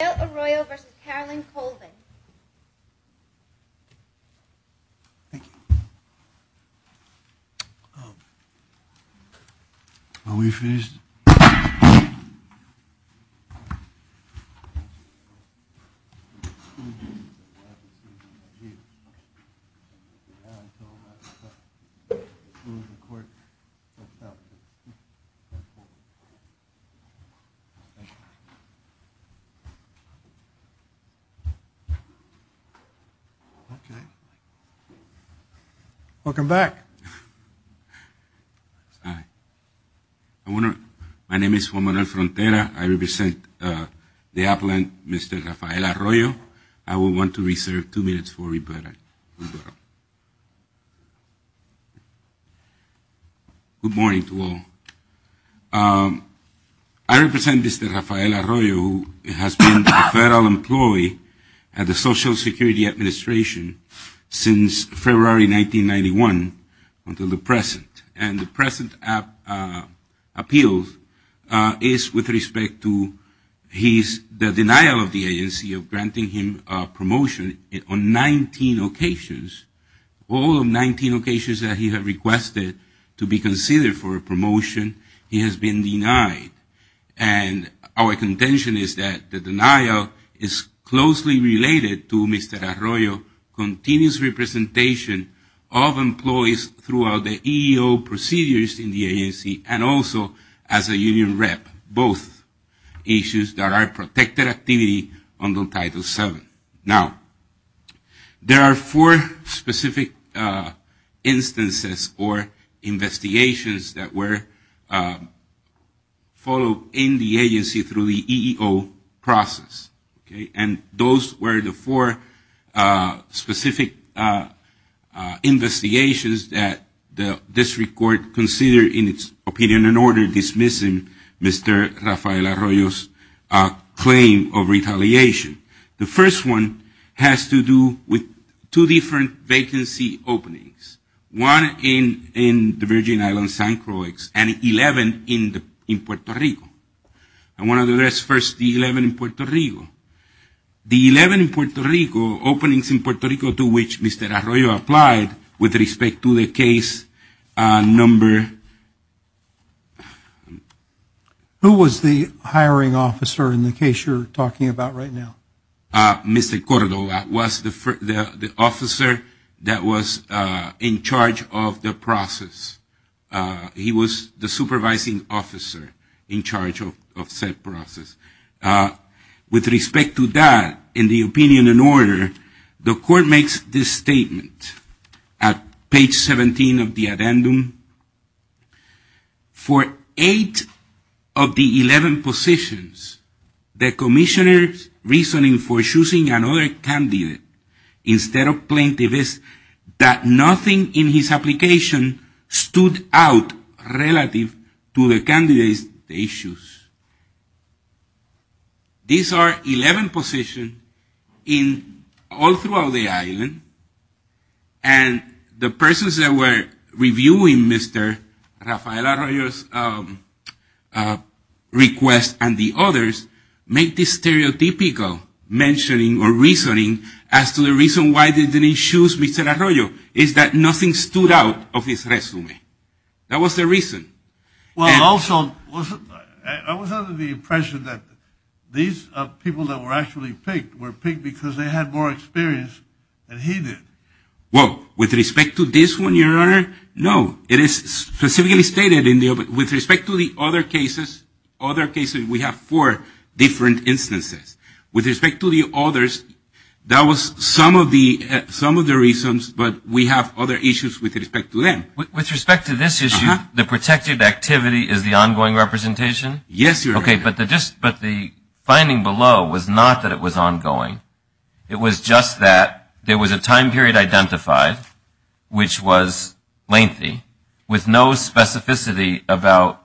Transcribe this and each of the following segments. Arroyo v. Carolyn Colvin Welcome back. My name is Juan Manuel Frontera. I represent the appellant Mr. Rafael Arroyo. I will want to reserve two minutes for rebuttal. Good morning to all. I represent Mr. Rafael Arroyo who has been a federal employee at the Social Security Administration since February 1991 until the present. And the present appeals is with respect to the denial of the agency of granting him a promotion on 19 occasions. All of 19 occasions that he had requested to be considered for a promotion, he has been denied. And our contention is that the denial is closely related to Mr. Arroyo's continuous representation of employees throughout the EEO procedures in the agency and also as a union rep. Both issues that are protected activity under Title VII. Now, there are four specific instances or investigations that were followed in the agency through the EEO process. And those were the four specific investigations that the district court considered in its opinion in order of dismissing Mr. Rafael Arroyo's claim of retaliation. The first one has to do with two different vacancy openings. One in the Virgin Islands, San Croix, and 11 in Puerto Rico. I want to address first the 11 in Puerto Rico. The 11 in Puerto Rico, openings in Puerto Rico to which Mr. Arroyo applied with respect to the case number... Mr. Cordova was the officer that was in charge of the process. He was the supervising officer in charge of said process. With respect to that, in the opinion in order, the court makes this statement at page 17 of the addendum. For eight of the 11 positions, the commissioners reasoning for choosing another candidate instead of plaintiff is that nothing in his application stood out relative to the candidates they choose. These are 11 positions all throughout the island. And the persons that were reviewing Mr. Rafael Arroyo's request and the others make this stereotypical mentioning or reasoning as to the reason why they didn't choose Mr. Arroyo is that nothing stood out of his resume. That was the reason. Well, also, I was under the impression that these people that were actually picked were picked because they had more experience than he did. Well, with respect to this one, Your Honor, no. It is specifically stated with respect to the other cases. Other cases, we have four different instances. With respect to the others, that was some of the reasons, but we have other issues with respect to them. With respect to this issue, the protected activity is the ongoing representation? Yes, Your Honor. Okay, but the finding below was not that it was ongoing. It was just that there was a time period identified, which was lengthy, with no specificity about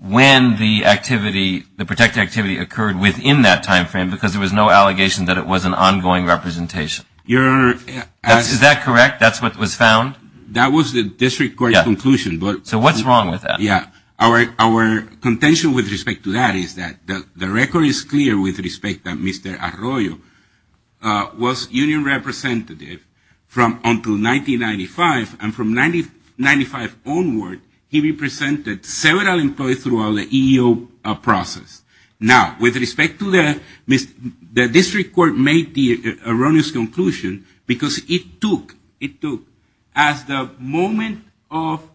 when the activity, the protected activity occurred within that time frame because there was no allegation that it was an ongoing representation. Your Honor. Is that correct? That's what was found? That was the district court's conclusion. So what's wrong with that? Yeah. Our contention with respect to that is that the record is clear with respect that Mr. Arroyo was union representative from until 1995, and from 1995 onward, he represented several employees throughout the EEO process. Now, with respect to the, the district court made the erroneous conclusion because it took, it took as the moment of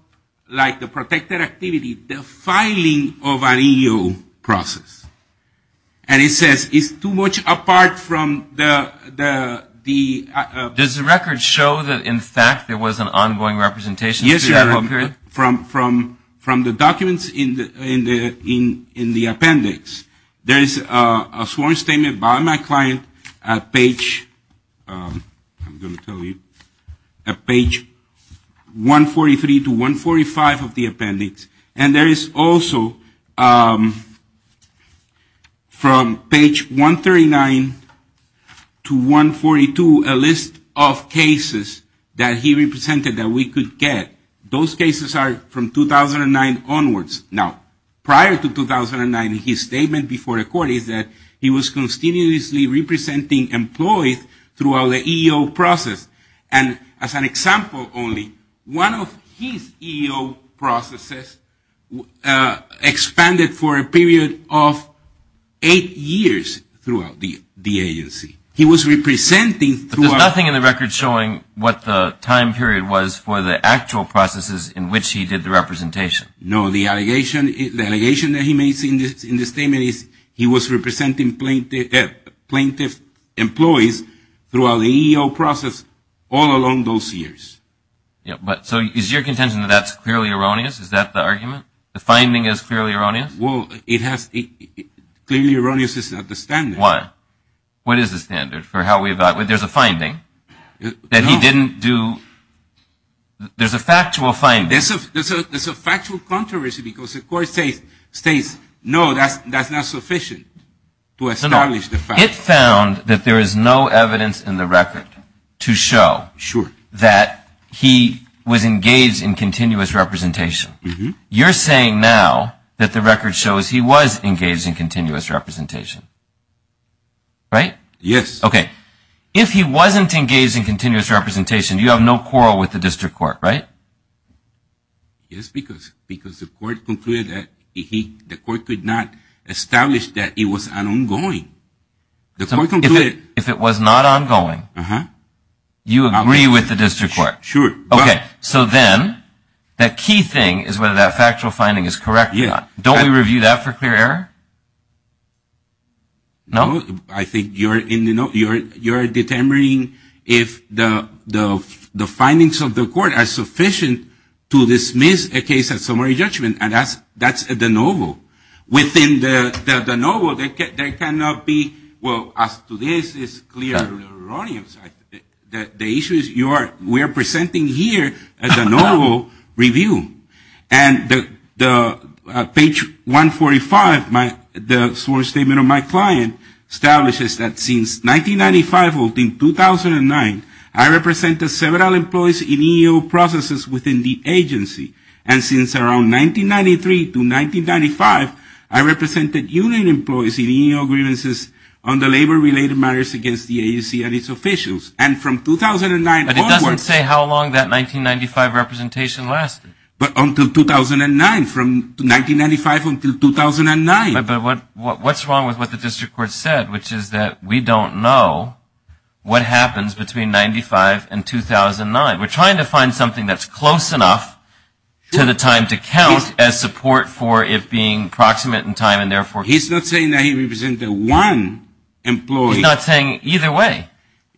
like the protected activity, the filing of an EEO process. And it says it's too much apart from the. Does the record show that in fact there was an ongoing representation? Yes, Your Honor. Okay. From the documents in the appendix, there is a sworn statement by my client at page, I'm going to tell you, at page 143 to 145 of the appendix. And there is also from page 139 to 142 a list of cases that he represented that we could get. Those cases are from 2009 onwards. Now, prior to 2009, his statement before the court is that he was continuously representing employees throughout the EEO process. And as an example only, one of his EEO processes expanded for a period of eight years throughout the agency. He was representing throughout. But there's nothing in the record showing what the time period was for the actual processes in which he did the representation. No, the allegation that he made in the statement is he was representing plaintiff employees throughout the EEO process all along those years. Yeah, but so is your contention that that's clearly erroneous? Is that the argument? The finding is clearly erroneous? Well, it has, clearly erroneous is not the standard. Why? What is the standard for how we evaluate? There's a finding that he didn't do, there's a factual finding. There's a factual controversy because the court states, no, that's not sufficient to establish the fact. It found that there is no evidence in the record to show that he was engaged in continuous representation. You're saying now that the record shows he was engaged in continuous representation, right? Yes. If he wasn't engaged in continuous representation, you have no quarrel with the district court, right? Yes, because the court concluded that the court could not establish that it was ongoing. If it was not ongoing, you agree with the district court? Sure. Okay, so then that key thing is whether that factual finding is correct or not. Don't we review that for clear error? No. I think you're determining if the findings of the court are sufficient to dismiss a case as summary judgment, and that's de novo. Within the de novo, there cannot be, well, as to this, it's clear erroneous. The issue is we are presenting here a de novo review. And page 145, the sworn statement of my client, establishes that since 1995 until 2009, I represented several employees in EEO processes within the agency. And since around 1993 to 1995, I represented union employees in EEO grievances on the labor-related matters against the agency and its officials. But it doesn't say how long that 1995 representation lasted. But until 2009, from 1995 until 2009. But what's wrong with what the district court said, which is that we don't know what happens between 1995 and 2009. We're trying to find something that's close enough to the time to count as support for it being proximate in time, and therefore... He's not saying that he represented one employee. He's not saying either way.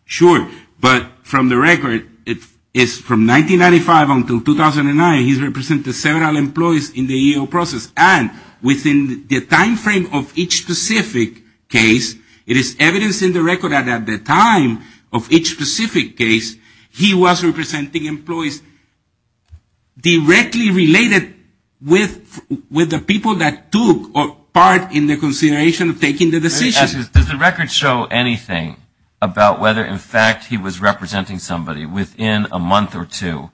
Sure, but from the record, it's from 1995 until 2009, he's represented several employees in the EEO process. And within the time frame of each specific case, it is evidence in the record that at the time of each specific case, he was representing employees directly related with the people that took part in the consideration of taking the decision. Does the record show anything about whether, in fact, he was representing somebody within a month or two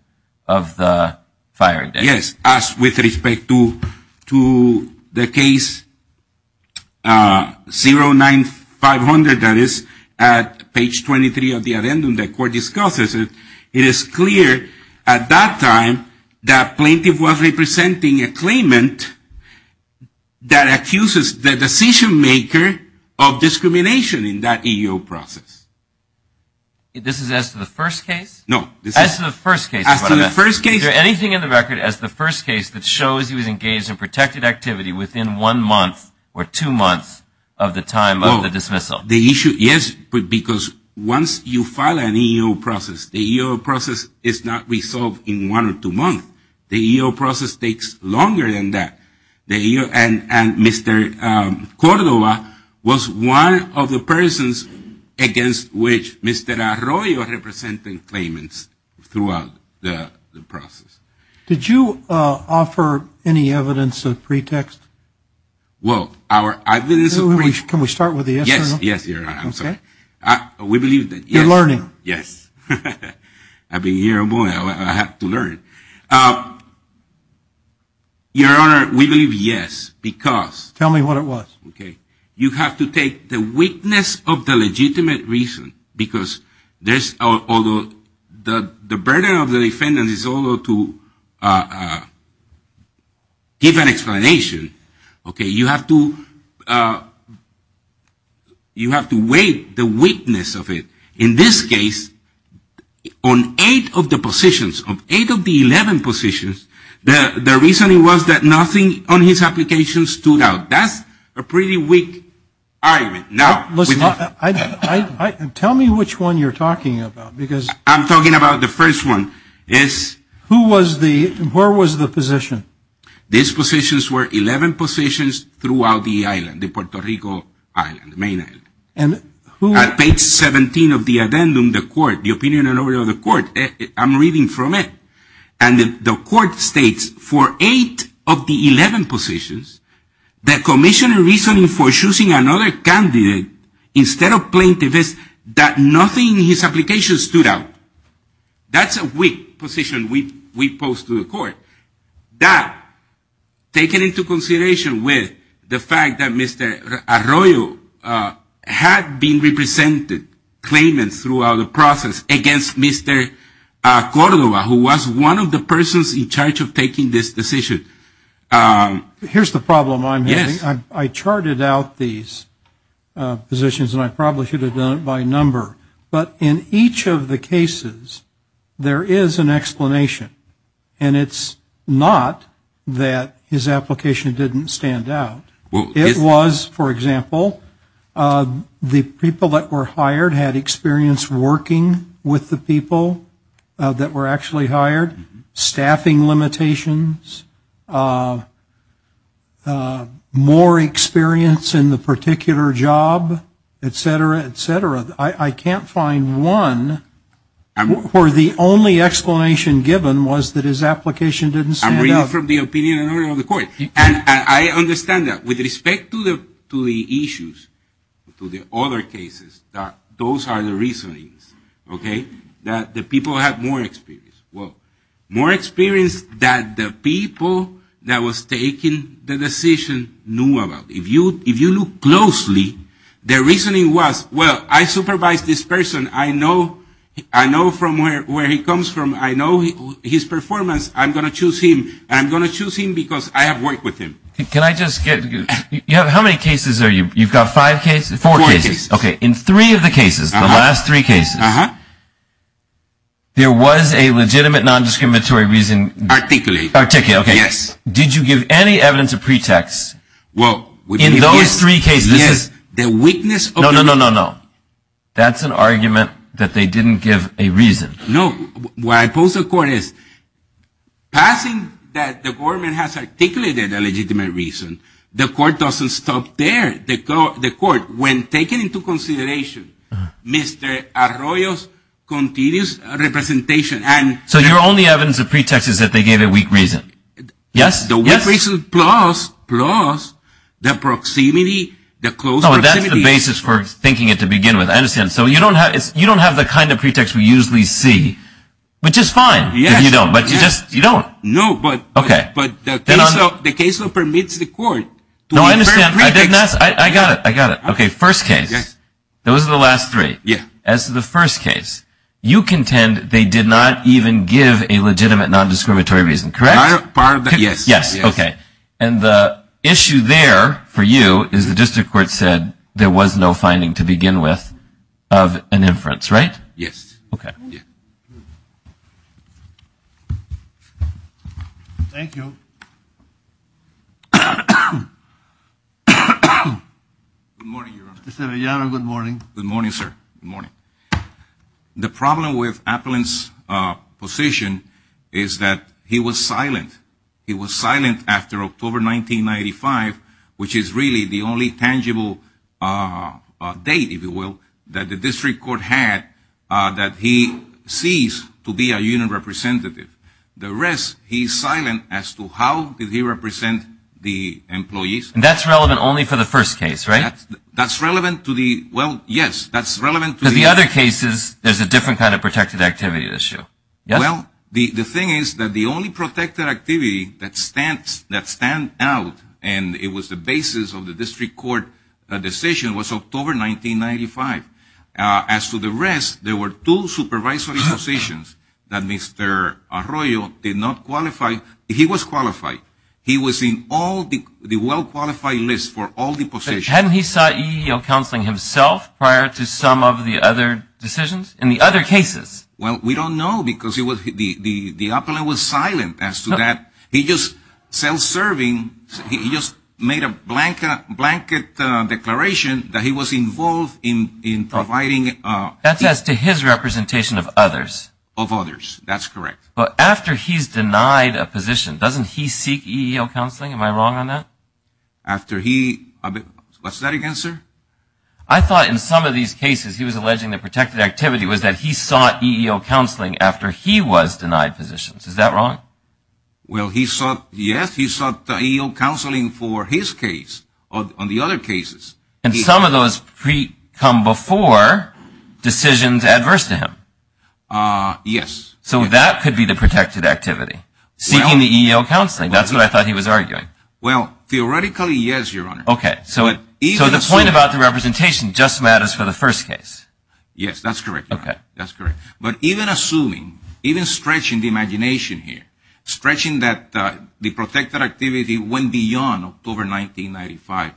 of the firing day? Yes, as with respect to the case 09-500, that is, at page 23 of the addendum, the court discusses it. It is clear at that time that plaintiff was representing a claimant that accuses the decision-maker of taking the decision. Is there any evidence of discrimination in that EEO process? This is as to the first case? No. As to the first case? As to the first case. Is there anything in the record as to the first case that shows he was engaged in protected activity within one month or two months of the time of the dismissal? The issue, yes, because once you file an EEO process, the EEO process is not resolved in one or two months. The EEO process takes longer than that. The EEO and Mr. Cordova was one of the persons against which Mr. Arroyo represented claimants throughout the process. Did you offer any evidence of pretext? Well, our evidence of pretext... Can we start with the SRO? Yes, yes, Your Honor. Okay. We believe that, yes. You're learning. Yes. I've been here a while. I have to learn. Your Honor, we believe yes, because... Tell me what it was. Okay. You have to take the weakness of the legitimate reason, because although the burden of the defendant is to give an explanation, you have to weigh the weakness of it. In this case, on eight of the positions, on eight of the 11 positions, the reasoning was that nothing on his application stood out. That's a pretty weak argument. Tell me which one you're talking about, because... I'm talking about the first one. Who was the... where was the position? These positions were 11 positions throughout the island, the Puerto Rico island, the main island. And who... At page 17 of the addendum, the court, the opinion and order of the court, I'm reading from it, and the court states, for eight of the 11 positions, the commission reasoning for choosing another candidate instead of plaintiff is that nothing in his application stood out. That's a weak position we pose to the court. That, taken into consideration with the fact that Mr. Arroyo had been represented claimant throughout the process against Mr. Cordova, who was one of the persons in charge of taking this decision. Here's the problem I'm having. Yes. I charted out these positions, and I probably should have done it by number. It's not that his application didn't stand out. It was, for example, the people that were hired had experience working with the people that were actually hired. Staffing limitations, more experience in the particular job, et cetera, et cetera. I can't find one where the only explanation given was that his application didn't stand out. I'm reading from the opinion and order of the court. And I understand that. With respect to the issues, to the other cases, those are the reasonings, okay, that the people had more experience. Well, more experience that the people that was taking the decision knew about. If you look closely, the reasoning was, well, I supervised this person. I know from where he comes from. I know his performance. I'm going to choose him, and I'm going to choose him because I have worked with him. How many cases are you? You've got five cases? Four cases. Okay. In three of the cases, the last three cases, there was a legitimate nondiscriminatory reason articulated. Yes. Did you give any evidence of pretext in those three cases? Yes. The weakness of the... No, no, no, no, no. That's an argument that they didn't give a reason. No. What I oppose the court is passing that the government has articulated a legitimate reason. The court doesn't stop there. The court, when taken into consideration, Mr. Arroyo's continuous representation and... So your only evidence of pretext is that they gave a weak reason. Yes. The weak reason plus the proximity, the close proximity... No, that's the basis for thinking it to begin with. I understand. So you don't have the kind of pretext we usually see, which is fine if you don't, but you just, you don't. No, but the case law permits the court to infer pretext. No, I understand. I didn't ask. I got it. I got it. Okay, first case. Those are the last three. As to the first case, you contend they did not even give a legitimate nondiscriminatory reason, correct? Part of that, yes. Yes, okay. And the issue there for you is the district court said there was no finding to begin with of an inference, right? Yes. Okay. Thank you. Good morning, Your Honor. Good morning, sir. Good morning. The problem with Applin's position is that he was silent. He was silent after October 1995, which is really the only tangible date, if you will, that the district court had that he ceased to be a union representative. The rest, he's silent as to how did he represent the employees. And that's relevant only for the first case, right? That's relevant to the, well, yes, that's relevant to the... In both cases, there's a different kind of protected activity issue. Yes? Well, the thing is that the only protected activity that stands out and it was the basis of the district court decision was October 1995. As to the rest, there were two supervisory positions that Mr. Arroyo did not qualify. He was qualified. He was in all the well-qualified lists for all the positions. Hadn't he sought EEO counseling himself prior to some of the other decisions in the other cases? Well, we don't know because the Applin was silent as to that. He just self-serving, he just made a blanket declaration that he was involved in providing... That's as to his representation of others. Of others. That's correct. But after he's denied a position, doesn't he seek EEO counseling? Am I wrong on that? After he... What's that again, sir? I thought in some of these cases he was alleging the protected activity was that he sought EEO counseling after he was denied positions. Is that wrong? Well, he sought, yes, he sought the EEO counseling for his case on the other cases. And some of those come before decisions adverse to him. Yes. So that could be the protected activity, seeking the EEO counseling. That's what I thought he was arguing. Well, theoretically, yes, Your Honor. Okay. So the point about the representation just matters for the first case. Yes, that's correct, Your Honor. Okay. That's correct. But even assuming, even stretching the imagination here, stretching that the protected activity went beyond October 1995,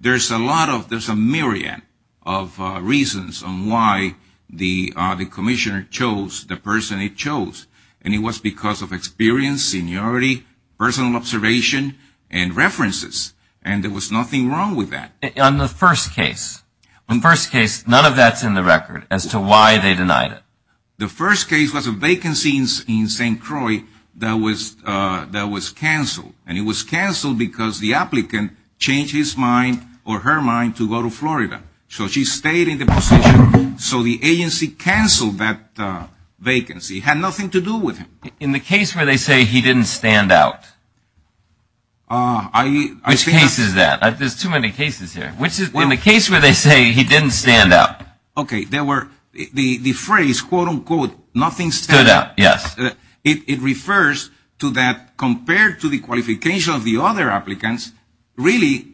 there's a lot of, there's a myriad of reasons on why the commissioner chose the person he chose. And it was because of experience, seniority, personal observation, and references. And there was nothing wrong with that. On the first case. On the first case, none of that's in the record as to why they denied it. The first case was a vacancy in St. Croix that was canceled. And it was canceled because the applicant changed his mind or her mind to go to Florida. So she stayed in the position. So the agency canceled that vacancy. It had nothing to do with him. In the case where they say he didn't stand out. Which case is that? There's too many cases here. In the case where they say he didn't stand out. Okay. The phrase, quote, unquote, nothing stands out. Yes. It refers to that compared to the qualification of the other applicants, really.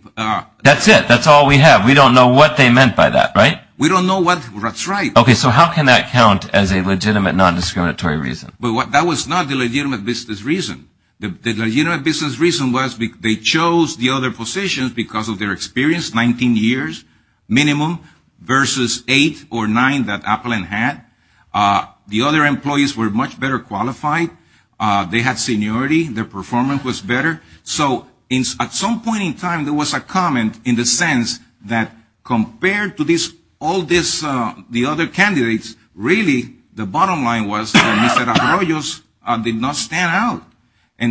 That's it. That's all we have. We don't know what they meant by that, right? We don't know what's right. Okay. So how can that count as a legitimate non-discriminatory reason? That was not the legitimate business reason. The legitimate business reason was they chose the other positions because of their experience, 19 years minimum, versus eight or nine that Applin had. The other employees were much better qualified. They had seniority. Their performance was better. So at some point in time there was a comment in the sense that compared to all the other candidates, really the bottom line was that Mr. Arroyos did not stand out. And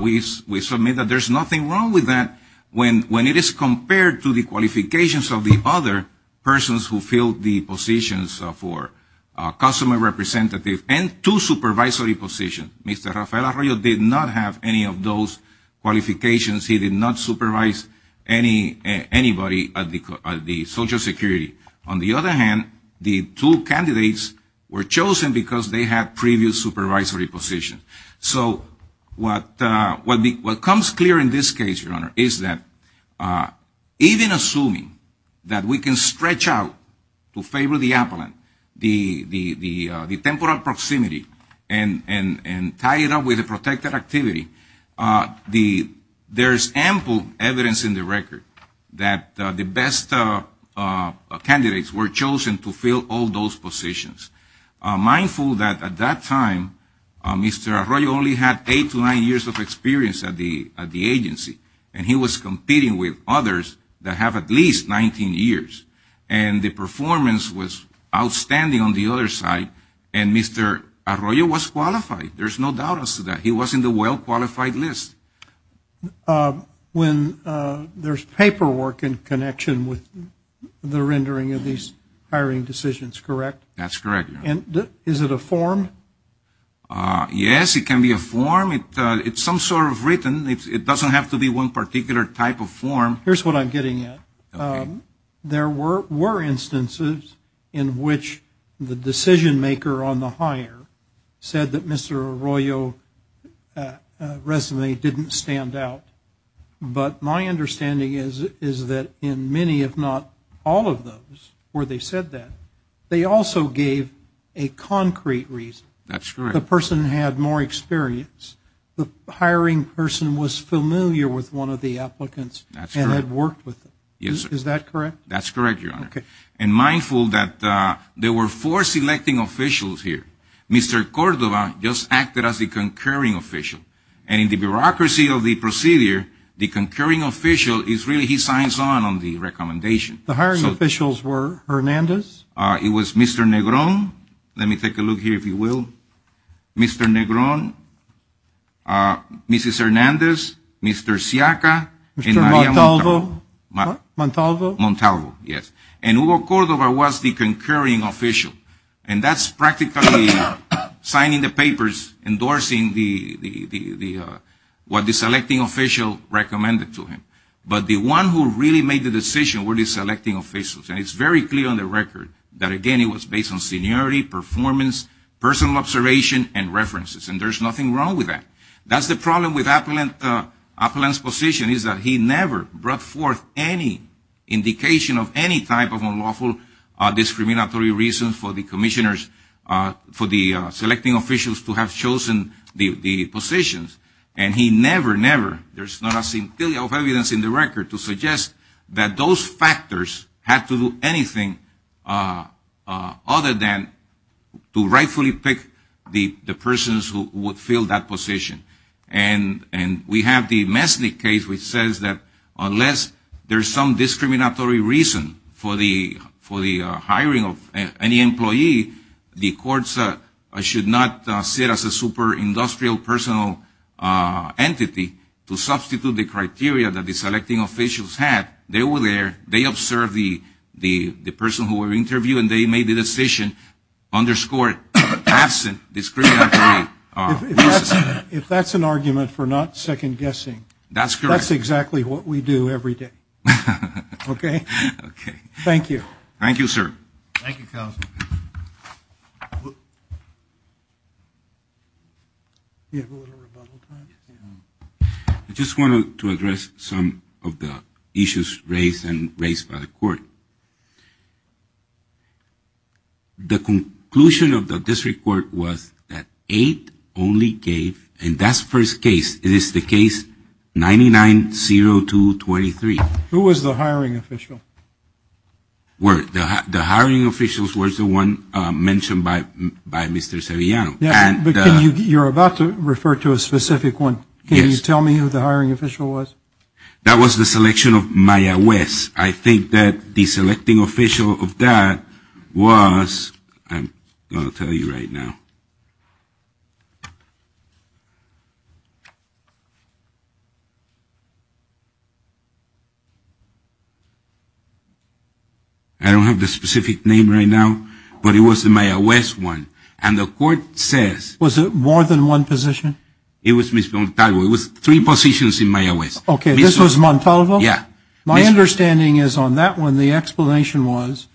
we submit that there's nothing wrong with that when it is compared to the qualifications of the other persons who filled the positions for customer representative and two supervisory positions. Mr. Rafael Arroyo did not have any of those qualifications. He did not supervise anybody at the Social Security. On the other hand, the two candidates were chosen because they had previous supervisory positions. So what comes clear in this case, Your Honor, is that even assuming that we can stretch out to favor the Applin the temporal proximity and tie it up with a protected activity, there's ample evidence in the record that the best candidates were chosen to fill all those positions. Mindful that at that time Mr. Arroyo only had eight to nine years of experience at the agency. And he was competing with others that have at least 19 years. And the performance was outstanding on the other side. And Mr. Arroyo was qualified. There's no doubt as to that. He was in the well-qualified list. When there's paperwork in connection with the rendering of these hiring decisions, correct? That's correct, Your Honor. And is it a form? Yes, it can be a form. It's some sort of written. It doesn't have to be one particular type of form. Here's what I'm getting at. There were instances in which the decision-maker on the hire said that Mr. Arroyo's resume didn't stand out. But my understanding is that in many, if not all, of those where they said that, they also gave a concrete reason. That's correct. The person had more experience. The hiring person was familiar with one of the applicants and had worked with them. Yes, sir. Is that correct? That's correct, Your Honor. Okay. And mindful that there were four selecting officials here. Mr. Cordova just acted as the concurring official. And in the bureaucracy of the procedure, the concurring official is really he signs on on the recommendation. The hiring officials were Hernandez? It was Mr. Negron. Let me take a look here, if you will. Mr. Negron, Mrs. Hernandez, Mr. Siaca, and Maria Montalvo. Montalvo? Montalvo, yes. And Hugo Cordova was the concurring official. And that's practically signing the papers, endorsing what the selecting official recommended to him. But the one who really made the decision were the selecting officials. And it's very clear on the record that, again, it was based on seniority, performance, personal observation, and references. And there's nothing wrong with that. That's the problem with the applicant's position is that he never brought forth any indication of any type of unlawful discriminatory reasons for the commissioners, for the selecting officials to have chosen the positions. And he never, never, there's not a centillion of evidence in the record to suggest that those factors had to do anything other than to rightfully pick the persons who would fill that position. And we have the Mesny case which says that unless there's some discriminatory reason for the hiring of any employee, the courts should not sit as a super-industrial personal entity to substitute the criteria that the selecting officials had. They were there. They observed the person who were interviewing. They made the decision, underscore, absent discriminatory reasons. If that's an argument for not second-guessing, that's exactly what we do every day. Okay? Okay. Thank you. Thank you, sir. Thank you, counsel. I just wanted to address some of the issues raised and raised by the court. The conclusion of the district court was that eight only gave, and that's the first case. It is the case 990223. Who was the hiring official? The hiring officials were the one mentioned by Mr. Saviano. You're about to refer to a specific one. Can you tell me who the hiring official was? That was the selection of Maya West. I think that the selecting official of that was, I'm going to tell you right now, I don't have the specific name right now, but it was the Maya West one, and the court says. Was it more than one position? It was Ms. Montalvo. It was three positions in Maya West. Okay, this was Montalvo? Yeah. My understanding is on that one, the explanation was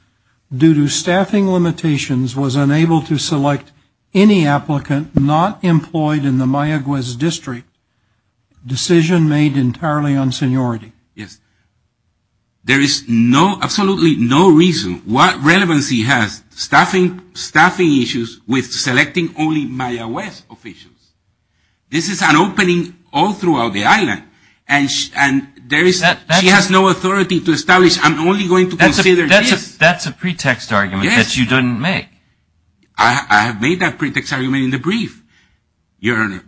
due to staffing limitations, was unable to select any applicant not employed in the Maya West district. Decision made entirely on seniority. Yes. There is absolutely no reason what relevancy has staffing issues with selecting only Maya West officials. This is an opening all throughout the island. She has no authority to establish, I'm only going to consider this. That's a pretext argument that you didn't make. I have made that pretext argument in the brief. Your Honor,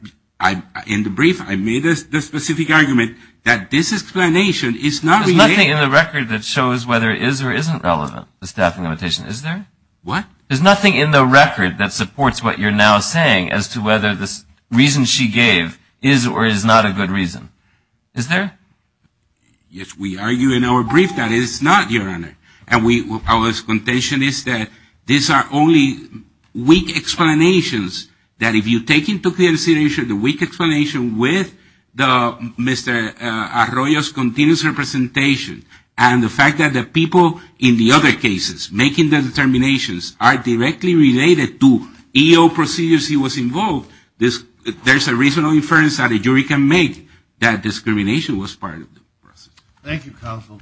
in the brief I made the specific argument that this explanation is not related. There's nothing in the record that shows whether it is or isn't relevant, the staffing limitation, is there? What? There's nothing in the record that supports what you're now saying as to whether the reason she gave is or is not a good reason. Is there? Yes, we argue in our brief that it's not, Your Honor. And our contention is that these are only weak explanations that if you take into consideration the weak explanation with Mr. Arroyo's continuous representation and the fact that the people in the other cases making the determinations are directly related to EO procedures he was involved, there's a reasonable inference that a jury can make that discrimination was part of the process. Thank you, counsel.